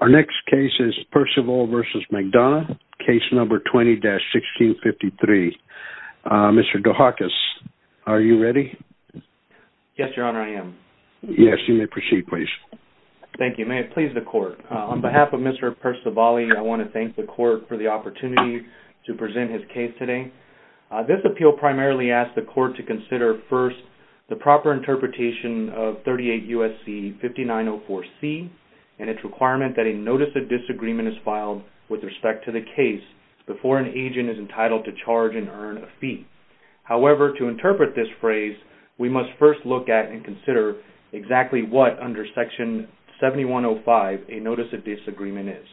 Perciavalle v. McDonough Case No. 20-1653 Mr. Dohakis, are you ready? Yes, Your Honor, I am. Yes, you may proceed, please. Thank you. May it please the Court. On behalf of Mr. Perciavalle, I want to thank the Court for the opportunity to present his case today. This appeal primarily asked the Court to consider first the proper interpretation of 38 U.S.C. 5904C and its requirement that a Notice of Disagreement is filed with respect to the case before an agent is entitled to charge and earn a fee. However, to interpret this phrase, we must first look at and consider exactly what, under Section 7105, a Notice of Disagreement is.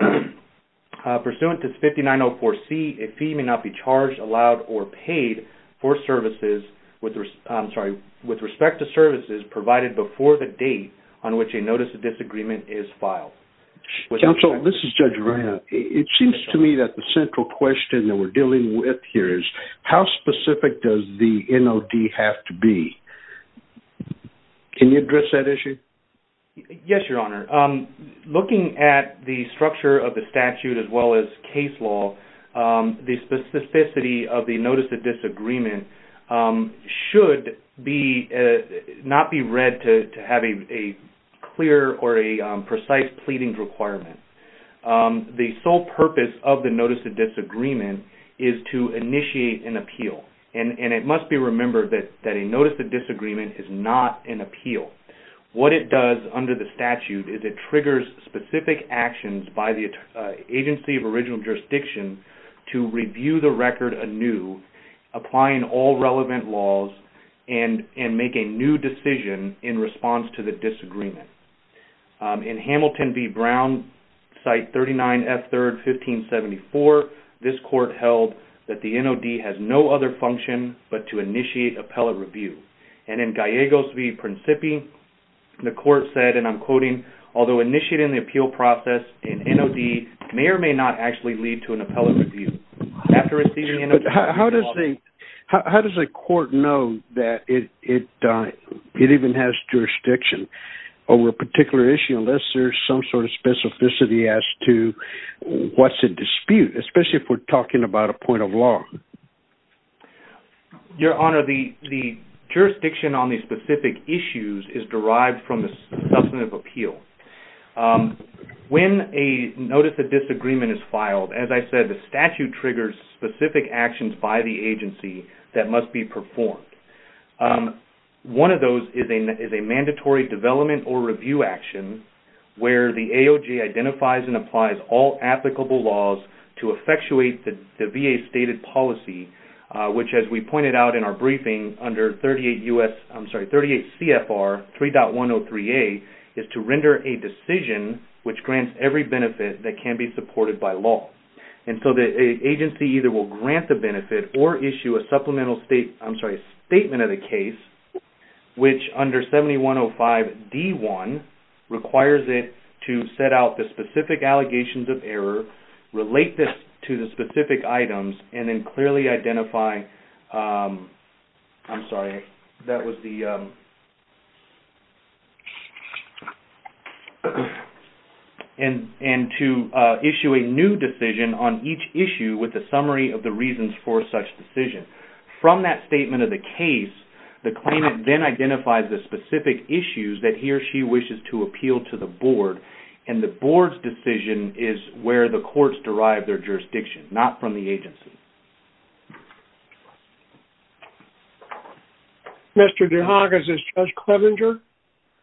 Pursuant to 5904C, a fee may not be charged, allowed, or paid for services with respect to services provided before the date on which a Notice of Disagreement is filed. Counsel, this is Judge Reina. It seems to me that the central question that we're dealing with here is how specific does the NOD have to be? Can you address that issue? Yes, Your Honor. Looking at the structure of the statute as well as case law, the specificity of the Notice of Disagreement should not be read to have a clear or a precise pleading requirement. The sole purpose of the Notice of Disagreement is to initiate an appeal, and it must be remembered that a Notice of Disagreement is not an appeal. What it does, under the statute, is it triggers specific actions by the agency of original jurisdiction to review the record anew, applying all relevant laws, and make a new decision in response to the disagreement. In Hamilton v. Brown, Site 39F3rd, 1574, this court held that the NOD has no other function but to initiate appellate review. And in Gallegos v. Principi, the court said, and I'm quoting, although initiated in the appeal process, an NOD may or may not actually lead to an appellate review. How does the court know that it even has jurisdiction over a particular issue unless there's some sort of specificity as to what's at dispute, especially if we're talking about a point of law? Your Honor, the jurisdiction on these specific issues is derived from the substantive appeal. When a Notice of Disagreement is filed, as I said, the statute triggers specific actions by the agency that must be performed. One of those is a mandatory development or review action where the AOG identifies and applies all applicable laws to effectuate the VA-stated policy, which, as we pointed out in our briefing, under 38 CFR 3.103A, is to render a decision which grants every benefit that can be supported by law. And so the agency either will grant the benefit or issue a supplemental state... I'm sorry, a statement of the case, which under 7105 D1, requires it to set out the specific allegations of error, relate this to the specific items, and then clearly identify... I'm sorry, that was the... ...and to issue a new decision on each issue with a summary of the reasons for such decision. From that statement of the case, the claimant then identifies the specific issues that he or she wishes to appeal to the board, and the board's decision is where the courts derive their jurisdiction, not from the agency. Mr. DeHagas, is Judge Clevenger...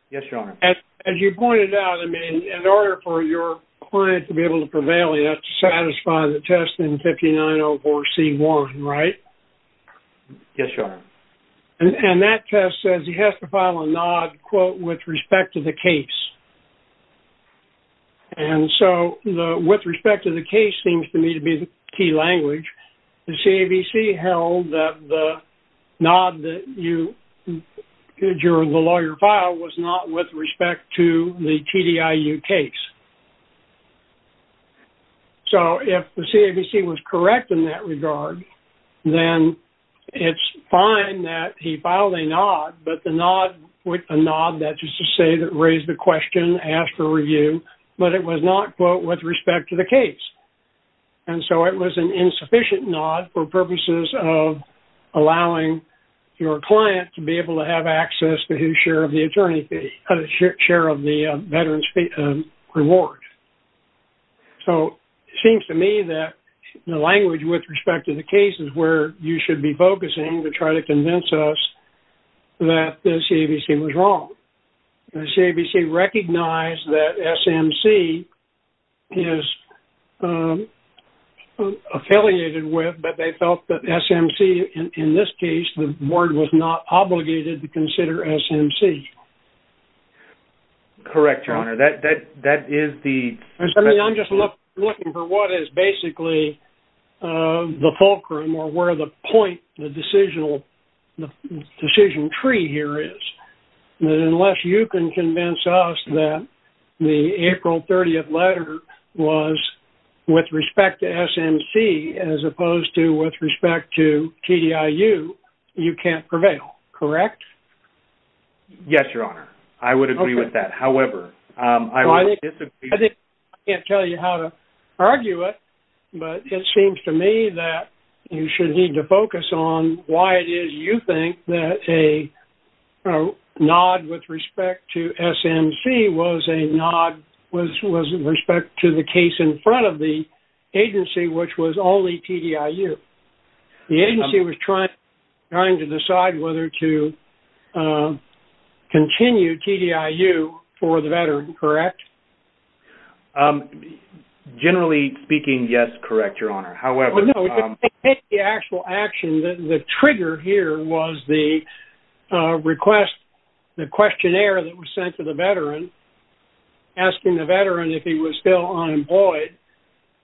Yes, Your Honor. As you pointed out, I mean, in order for your client to be able to prevail, you have to satisfy the test in 5904C1, right? Yes, Your Honor. And that test says he has to file a NOD, quote, with respect to the case. And so, the with respect to the case seems to me to be the key language. The CAVC held that the NOD that you... ...that the lawyer filed was not with respect to the TDIU case. So, if the CAVC was correct in that regard, then it's fine that he filed a NOD, but the NOD, a NOD, that's just to say that raised the question, asked for review, but it was not, quote, with respect to the case. And so, it was an insufficient NOD for purposes of allowing your client to be able to have access to his share of the attorney fee, share of the veteran's reward. So, it seems to me that the language with respect to the case is where you should be focusing to try to convince us that the CAVC was wrong. The CAVC recognized that SMC is affiliated with, but they felt that SMC, in this case, the board was not obligated to consider SMC. Correct, your honor. That is the... I mean, I'm just looking for what is basically the fulcrum or where the point, the decision tree here is. That unless you can convince us that the April 30th letter was with respect to SMC as opposed to with respect to TDIU, you can't prevail, correct? Yes, your honor. I would agree with that. However, I would disagree... I think I can't tell you how to argue it, but it seems to me that you should need to focus on why it is you think that a nod with respect to SMC was a nod with respect to the case in front of the agency, which was only TDIU. The agency was trying to decide whether to continue TDIU for the veteran, correct? Generally speaking, yes, correct, your honor. However... The actual action, the trigger here was the request, the questionnaire that was sent to the veteran, asking the veteran if he was still unemployed.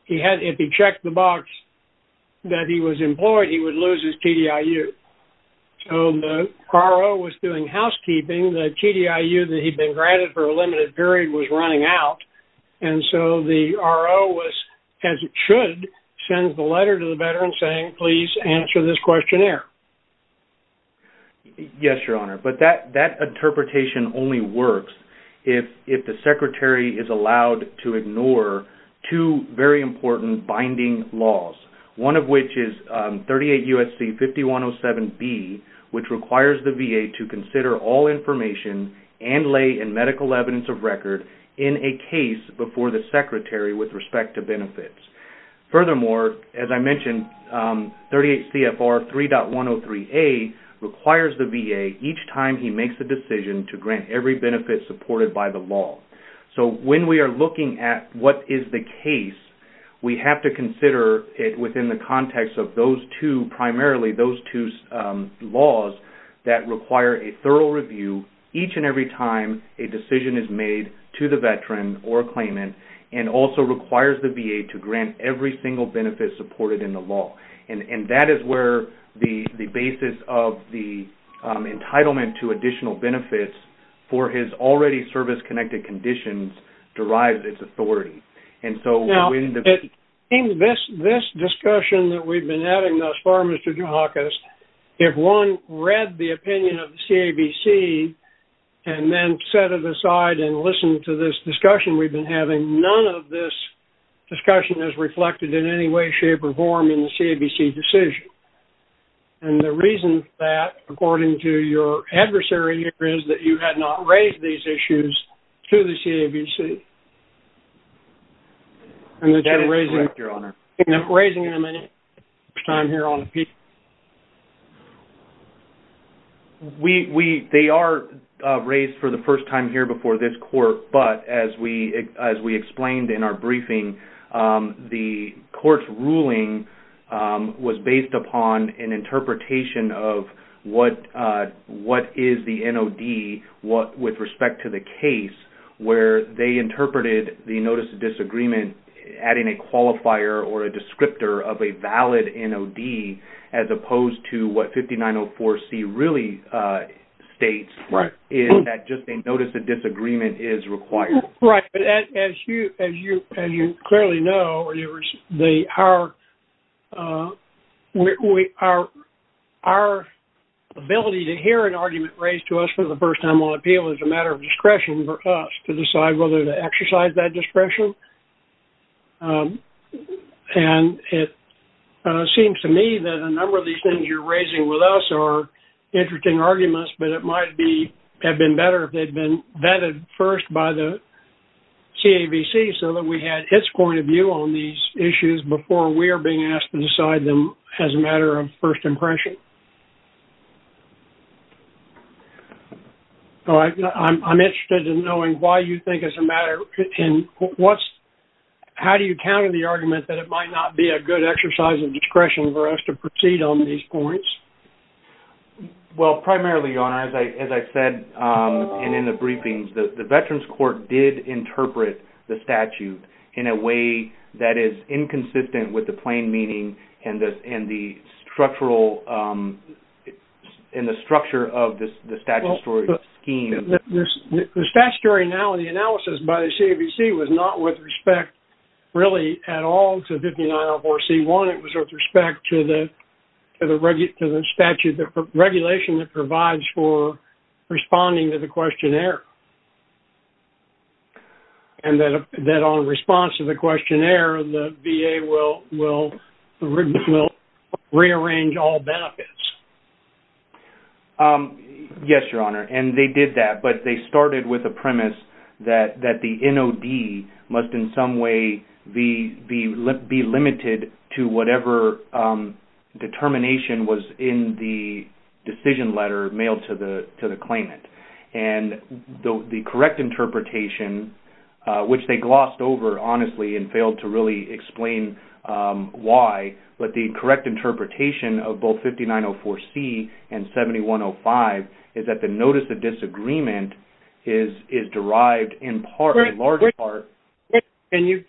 If he checked the box that he was employed, he would lose his TDIU. So the R.O. was doing housekeeping. The TDIU that he'd been granted for a limited period was running out. And so the R.O. was, as it should, sends the letter to the veteran saying, please answer this questionnaire. Yes, your honor, but that interpretation only works if the secretary is allowed to ignore two very important binding laws, one of which is 38 U.S.C. 5107B, which requires the VA to consider all information and lay in medical evidence of record in a case before the secretary with respect to benefits. Furthermore, as I mentioned, 38 C.F.R. 3.103A requires the VA, each time he makes a decision, to grant every benefit supported by the law. So when we are looking at what is the case, we have to consider it within the context of those two, primarily those two laws that require a thorough review each and every time a decision is made to the veteran or claimant, and also requires the VA to grant every single benefit supported in the law. And that is where the basis of the entitlement to additional benefits for his already service-connected conditions derives its authority. And so when the... Now, in this discussion that we've been having thus far, Mr. Dukakis, if one read the opinion of the CABC and then set it aside and listened to this discussion we've been having, none of this discussion is reflected in any way, shape, or form in the CABC decision. And the reason for that, according to your adversary here, is that you had not raised these issues to the CABC. And that you're raising... That is correct, Your Honor. ...raising them any first time here on appeal. They are raised for the first time here before this court, but as we explained in our briefing, the court's ruling was based upon an interpretation of what is the NOD with respect to the case, where they interpreted the notice of disagreement adding a qualifier or a descriptor of a valid NOD as opposed to what 5904C really states... Right. ...is that just a notice of disagreement is required. Right. But as you clearly know, our ability to hear an argument raised to us for the first time on appeal is a matter of discretion for us to decide whether to exercise that discretion. And it seems to me that a number of these things you're raising with us are interesting arguments, but it might have been better if they'd been vetted first by the CABC so that we had its point of view on these issues before we are being asked to decide them as a matter of first impression. So I'm interested in knowing why you think it's a matter... How do you counter the argument that it might not be a good exercise of discretion for us to proceed on these points? Well, primarily, Your Honour, as I said in the briefings, the Veterans Court did interpret the statute in a way that is inconsistent with the plain meaning and the structural... ...and the structure of the statutory scheme. The statutory analysis by the CABC was not with respect, really, at all to 5904C1. It was with respect to the statute, the regulation that provides for responding to the questionnaire. And that on response to the questionnaire, the VA will rearrange all benefits. Yes, Your Honour, and they did that, but they started with a premise that the NOD must in some way be limited to whatever determination was in the decision letter mailed to the claimant. And the correct interpretation, which they glossed over, honestly, and failed to really explain why, but the correct interpretation of both 5904C and 7105 is that the notice of disagreement is derived in part, in large part... Can you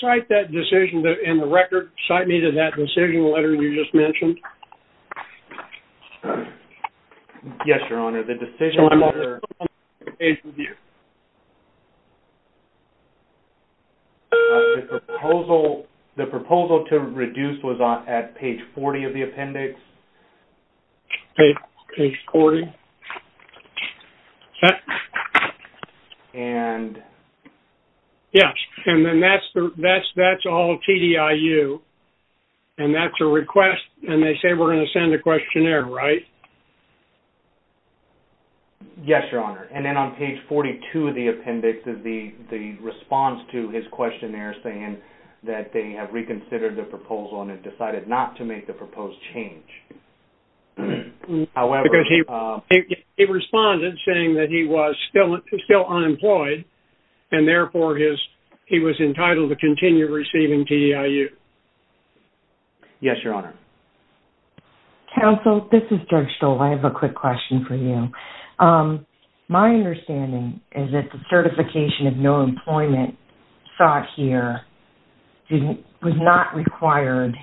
cite that decision in the record? Cite me to that decision letter you just mentioned. Yes, Your Honour, the decision letter... The proposal to reduce was at page 40 of the appendix. Page 40. And... Yes, and then that's all TDIU, and that's a request, and they say we're going to send a questionnaire, right? Yes, Your Honour, and then on page 42 of the appendix is the response to his questionnaire saying that they have reconsidered the proposal and have decided not to make the proposed change. However... He responded saying that he was still unemployed, and therefore he was entitled to continue receiving TDIU. Yes, Your Honour. Counsel, this is Judge Stoll. I have a quick question for you. My understanding is that the certification of no employment sought here was not required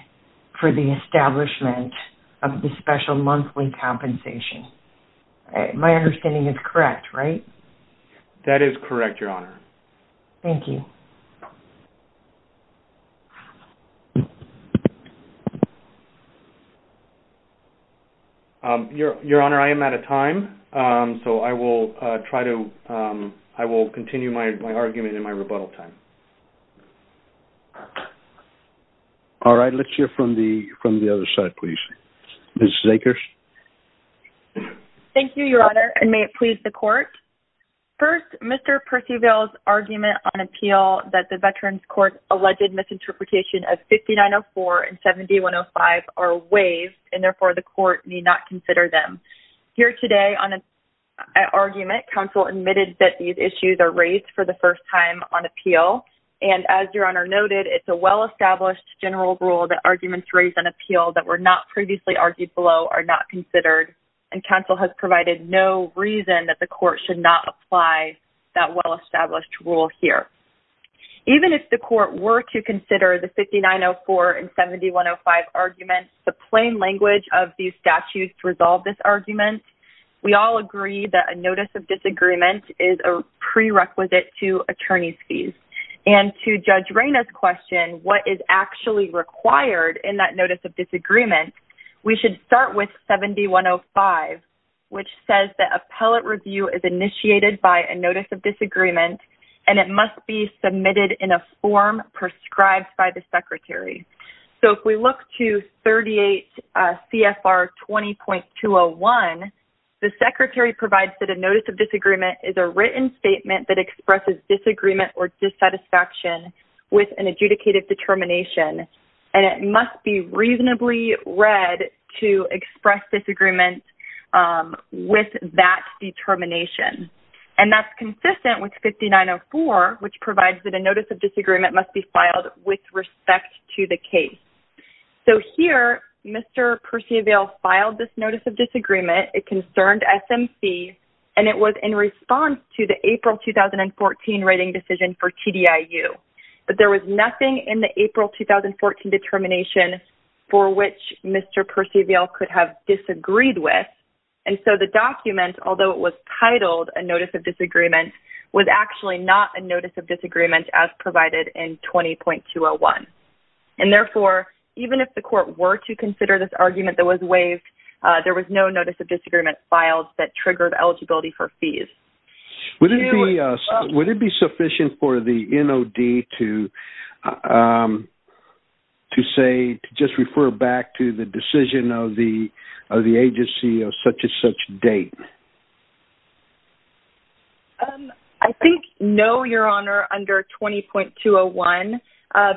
for the establishment of the special monthly compensation. My understanding is correct, right? That is correct, Your Honour. Thank you. Your Honour, I am out of time, so I will try to... I will continue my argument in my rebuttal time. All right, let's hear from the other side, please. Mrs. Akers? First, Mr. Percival's argument on appeal that the Veterans Court's alleged misinterpretation of 5904 and 7105 are waived, and therefore the court need not consider them. Here today on an argument, counsel admitted that these issues are raised for the first time on appeal, and as Your Honour noted, it's a well-established general rule that arguments raised on appeal that were not previously argued below are not considered, and counsel has provided no reason that the court should not apply that well-established rule here. Even if the court were to consider the 5904 and 7105 arguments, the plain language of these statutes resolve this argument. We all agree that a notice of disagreement is a prerequisite to attorney's fees, and to Judge Reyna's question, what is actually required in that notice of disagreement, we should start with 7105, which says that appellate review is initiated by a notice of disagreement, and it must be submitted in a form prescribed by the secretary. So if we look to 38 CFR 20.201, the secretary provides that a notice of disagreement is a written statement that expresses disagreement or dissatisfaction with an adjudicated determination, and it must be reasonably read to express disagreement with that determination, and that's consistent with 5904, which provides that a notice of disagreement must be filed with respect to the case. So here, Mr. Percival filed this notice of disagreement. It concerned SMC, and it was in response to the April 2014 writing decision for TDIU, but there was nothing in the April 2014 determination for which Mr. Percival could have disagreed with, and so the document, although it was titled a notice of disagreement, was actually not a notice of disagreement as provided in 20.201, and therefore, even if the court were to consider this argument that was waived, there was no notice of disagreement filed that triggered eligibility for fees. Would it be sufficient for the NOD to just refer back to the decision of the agency of such-and-such date? I think no, Your Honor, under 20.201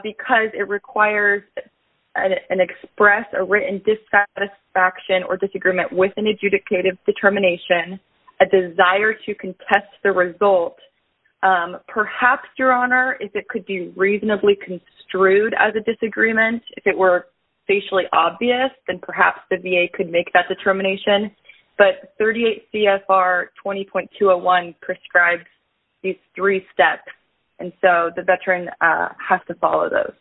because it requires an express or written dissatisfaction or disagreement with an adjudicated determination, a desire to contest the result. Perhaps, Your Honor, it could be reasonably construed as a disagreement. If it were facially obvious, then perhaps the VA could make that determination, but 38 CFR 20.201 prescribes these three steps, and so the veteran has to follow those.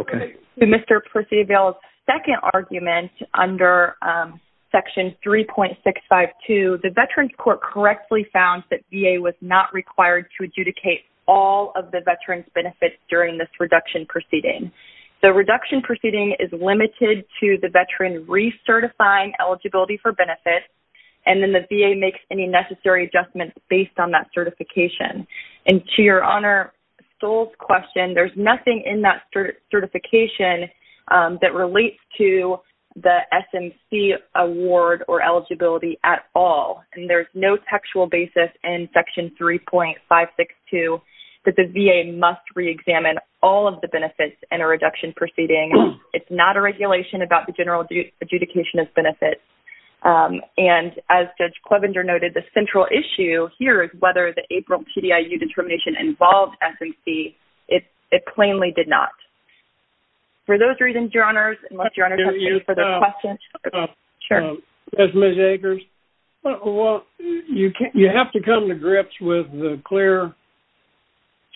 Okay. Mr. Percival's second argument under Section 3.652, the Veterans Court correctly found that VA was not required to adjudicate all of the veteran's benefits during this reduction proceeding. The reduction proceeding is limited to the veteran recertifying eligibility for benefits, and then the VA makes any necessary adjustments based on that certification. And to Your Honor Stoll's question, there's nothing in that certification that relates to the SMC award or eligibility at all, and there's no textual basis in Section 3.562 that the VA must re-examine all of the benefits in a reduction proceeding. It's not a regulation about the general adjudication of benefits, and as Judge Clevenger noted, the central issue here is whether the April TDIU determination involved SMC. It plainly did not. For those reasons, Your Honors, unless Your Honors have any further questions, sure. Yes, Ms. Akers? Well, you have to come to grips with the clear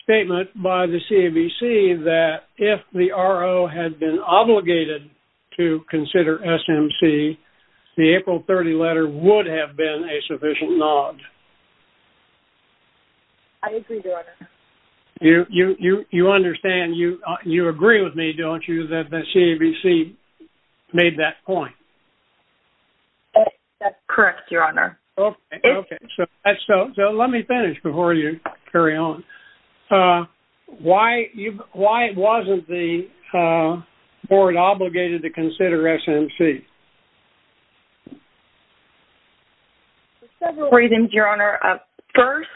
statement by the CABC that if the RO had been obligated to consider SMC, the April 30 letter would have been a sufficient nod. I agree, Your Honor. You understand. You agree with me, don't you, that the CABC made that point? That's correct, Your Honor. Okay, okay. So let me finish before you carry on. Why wasn't the board obligated to consider SMC? For several reasons, Your Honor. First,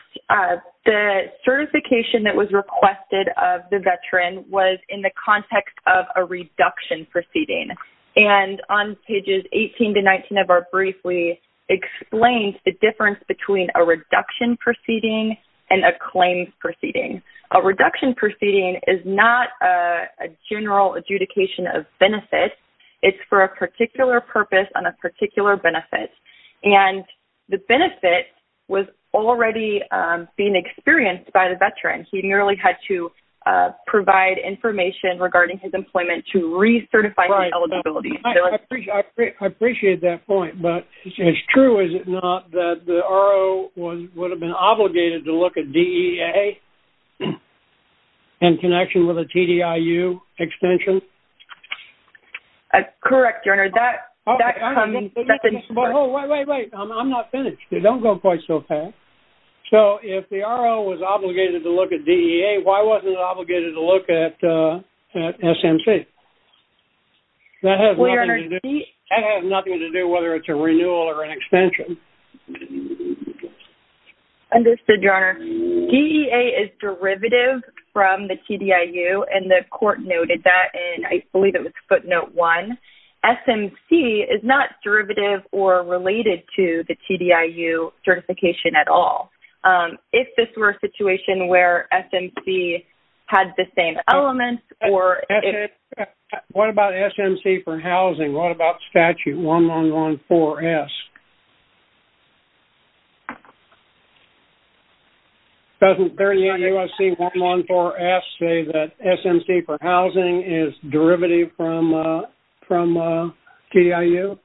the certification that was requested of the veteran was in the context of a reduction proceeding, and on pages 18 to 19 of our brief, we explained the difference between a reduction proceeding and a claim proceeding. A reduction proceeding is not a general adjudication of benefits. It's for a particular purpose on a particular benefit, and the benefit was already being experienced by the veteran. He nearly had to provide information regarding his employment to recertify his eligibility. I appreciate that point, but it's true, is it not, that the RO would have been obligated to look at DEA in connection with a TDIU extension? That's correct, Your Honor. That comes... Wait, wait, wait. I'm not finished. They don't go quite so fast. So if the RO was obligated to look at DEA, why wasn't it obligated to look at SMC? That has nothing to do... That has nothing to do whether it's a renewal or an extension. Understood, Your Honor. DEA is derivative from the TDIU, and the court noted that in, I believe it was footnote one. SMC is not derivative or related to the TDIU certification at all. If this were a situation where SMC had the same elements, or... What about SMC for housing? What about statute 1114-S? Doesn't there in the USC 1114-S say that SMC for housing is derivative from TDIU?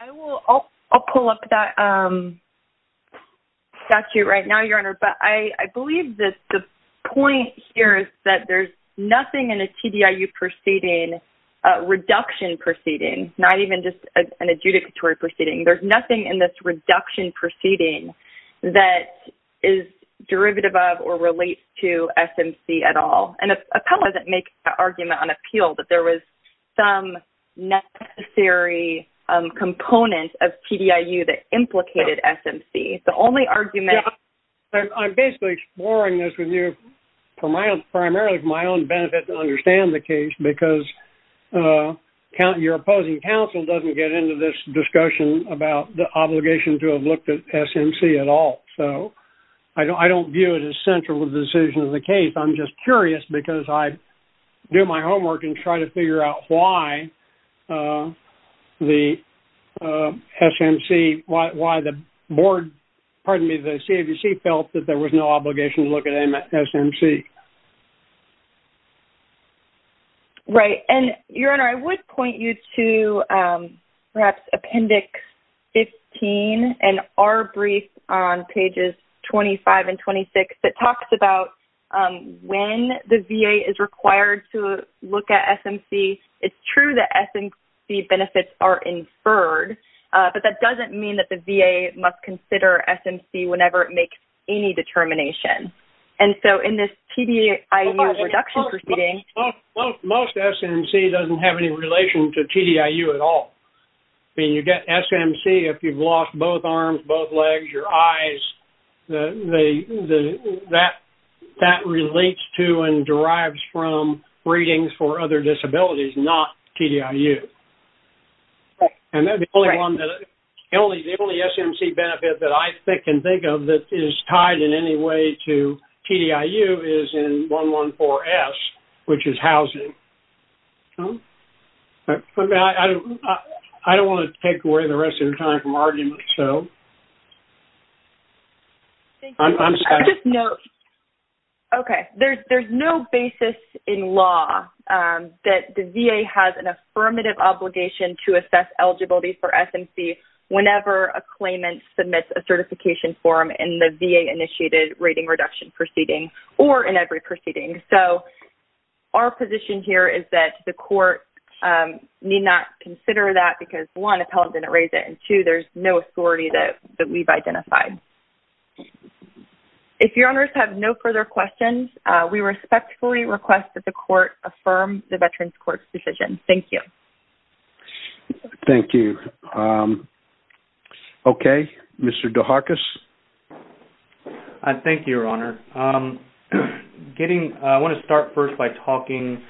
I will, I'll pull up that statute right now, Your Honor, but I believe that the point here is that there's nothing in a TDIU proceeding, reduction proceeding, not even just an adjudicatory proceeding. There's nothing in this reduction proceeding that is derivative of or relates to SMC at all. And Appell doesn't make an argument on appeal that there was some necessary component of TDIU that implicated SMC. The only argument... I'm basically exploring this with you primarily for my own benefit to understand the case, because your opposing counsel doesn't get into this discussion about the obligation to have looked at SMC at all. So I don't view it as central with the decision of the case. I'm just curious because I do my homework and try to figure out why the SMC, why the board, pardon me, the CAVC felt that there was no obligation to look at SMC. Right. And Your Honor, I would point you to perhaps Appendix 15 and our brief on pages 25 and 26 that talks about when the VA is required to look at SMC. It's true that SMC benefits are inferred, but that doesn't mean that the VA must consider SMC whenever it makes any determination. And so in this TDIU reduction proceeding... Most SMC doesn't have any relation to TDIU at all. I mean, you get SMC if you've lost both arms, both legs, your eyes. That relates to and derives from readings for other disabilities, not TDIU. Right. And the only SMC benefit that I can think of that is tied in any way to TDIU is in 114-S, which is housing. I don't want to take away the rest of your time from arguments, so... I'm sorry. I just know... Okay. There's no basis in law that the VA has an affirmative obligation to assess eligibility for SMC whenever a claimant submits a certification form in the VA-initiated rating reduction proceeding or in every proceeding. So our position here is that the court need not consider that because one, appellant didn't raise it, and two, there's no authority that we've identified. If your honors have no further questions, we respectfully request that the court affirm the Veterans Court's decision. Thank you. Thank you. Okay. Mr. DeHarkis. Thank you, Your Honor. I want to start first by talking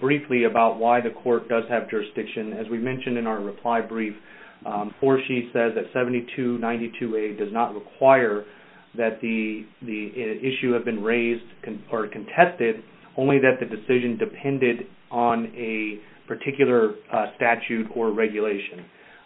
briefly about why the court does have jurisdiction. As we mentioned in our reply brief, 4C says that 7292A does not require that the issue have been raised or contested only that the decision depended on a particular statute or regulation.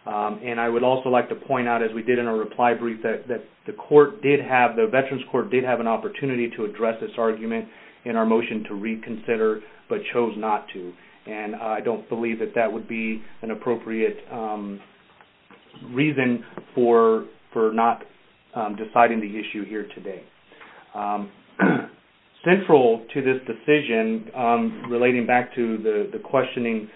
And I would also like to point out as we did in our reply brief that the court did have, the Veterans Court did have an opportunity to address this argument in our motion to reconsider but chose not to. And I don't believe that that would be an appropriate reason for not deciding the issue here today. Central to this decision, relating back to the questioning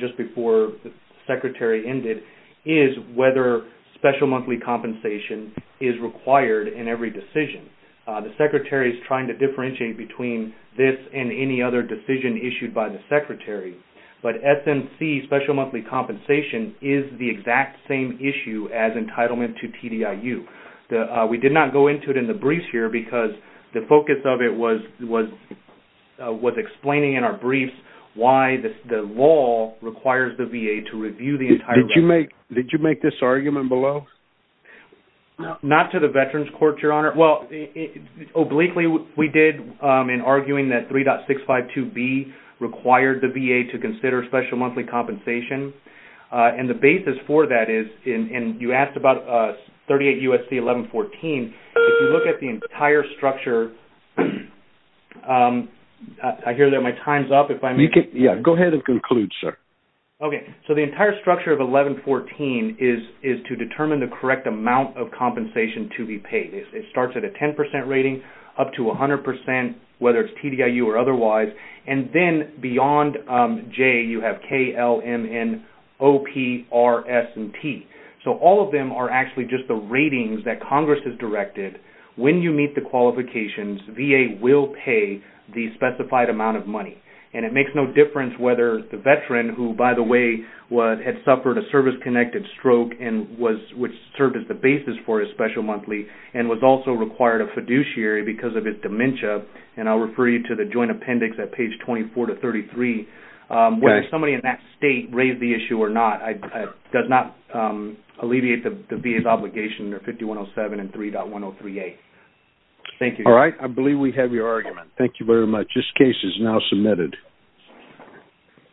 just before the secretary ended, is whether special monthly compensation is required in every decision. The secretary is trying to differentiate between this and any other decision issued by the secretary. But SMC, special monthly compensation, is the exact same issue as entitlement to TDIU. We did not go into it because the focus of it was explaining in our briefs why the law requires the VA to review the entire- Did you make this argument below? Not to the Veterans Court, Your Honor. Well, obliquely we did in arguing that 3.652B required the VA to consider special monthly compensation. And the basis for that is, and you asked about 38 U.S.C. 1114, if you look at the entire structure- I hear that my time's up. Yeah, go ahead and conclude, sir. Okay. So the entire structure of 1114 is to determine the correct amount of compensation to be paid. It starts at a 10% rating, up to 100%, whether it's TDIU or otherwise. And then beyond J, you have K, L, M, N, O, P, R, S, and T. So all of them are actually just the ratings that Congress has directed. When you meet the qualifications, VA will pay the specified amount of money. And it makes no difference whether the veteran, who, by the way, had suffered a service-connected stroke which served as the basis for his special monthly, and was also required a fiduciary because of his dementia. And I'll refer you to the joint appendix at page 24 to 33. Whether somebody in that state raised the issue or not, does not alleviate the VA's obligation or 5107 and 3.1038. Thank you. All right. I believe we have your argument. Thank you very much. This case is now submitted.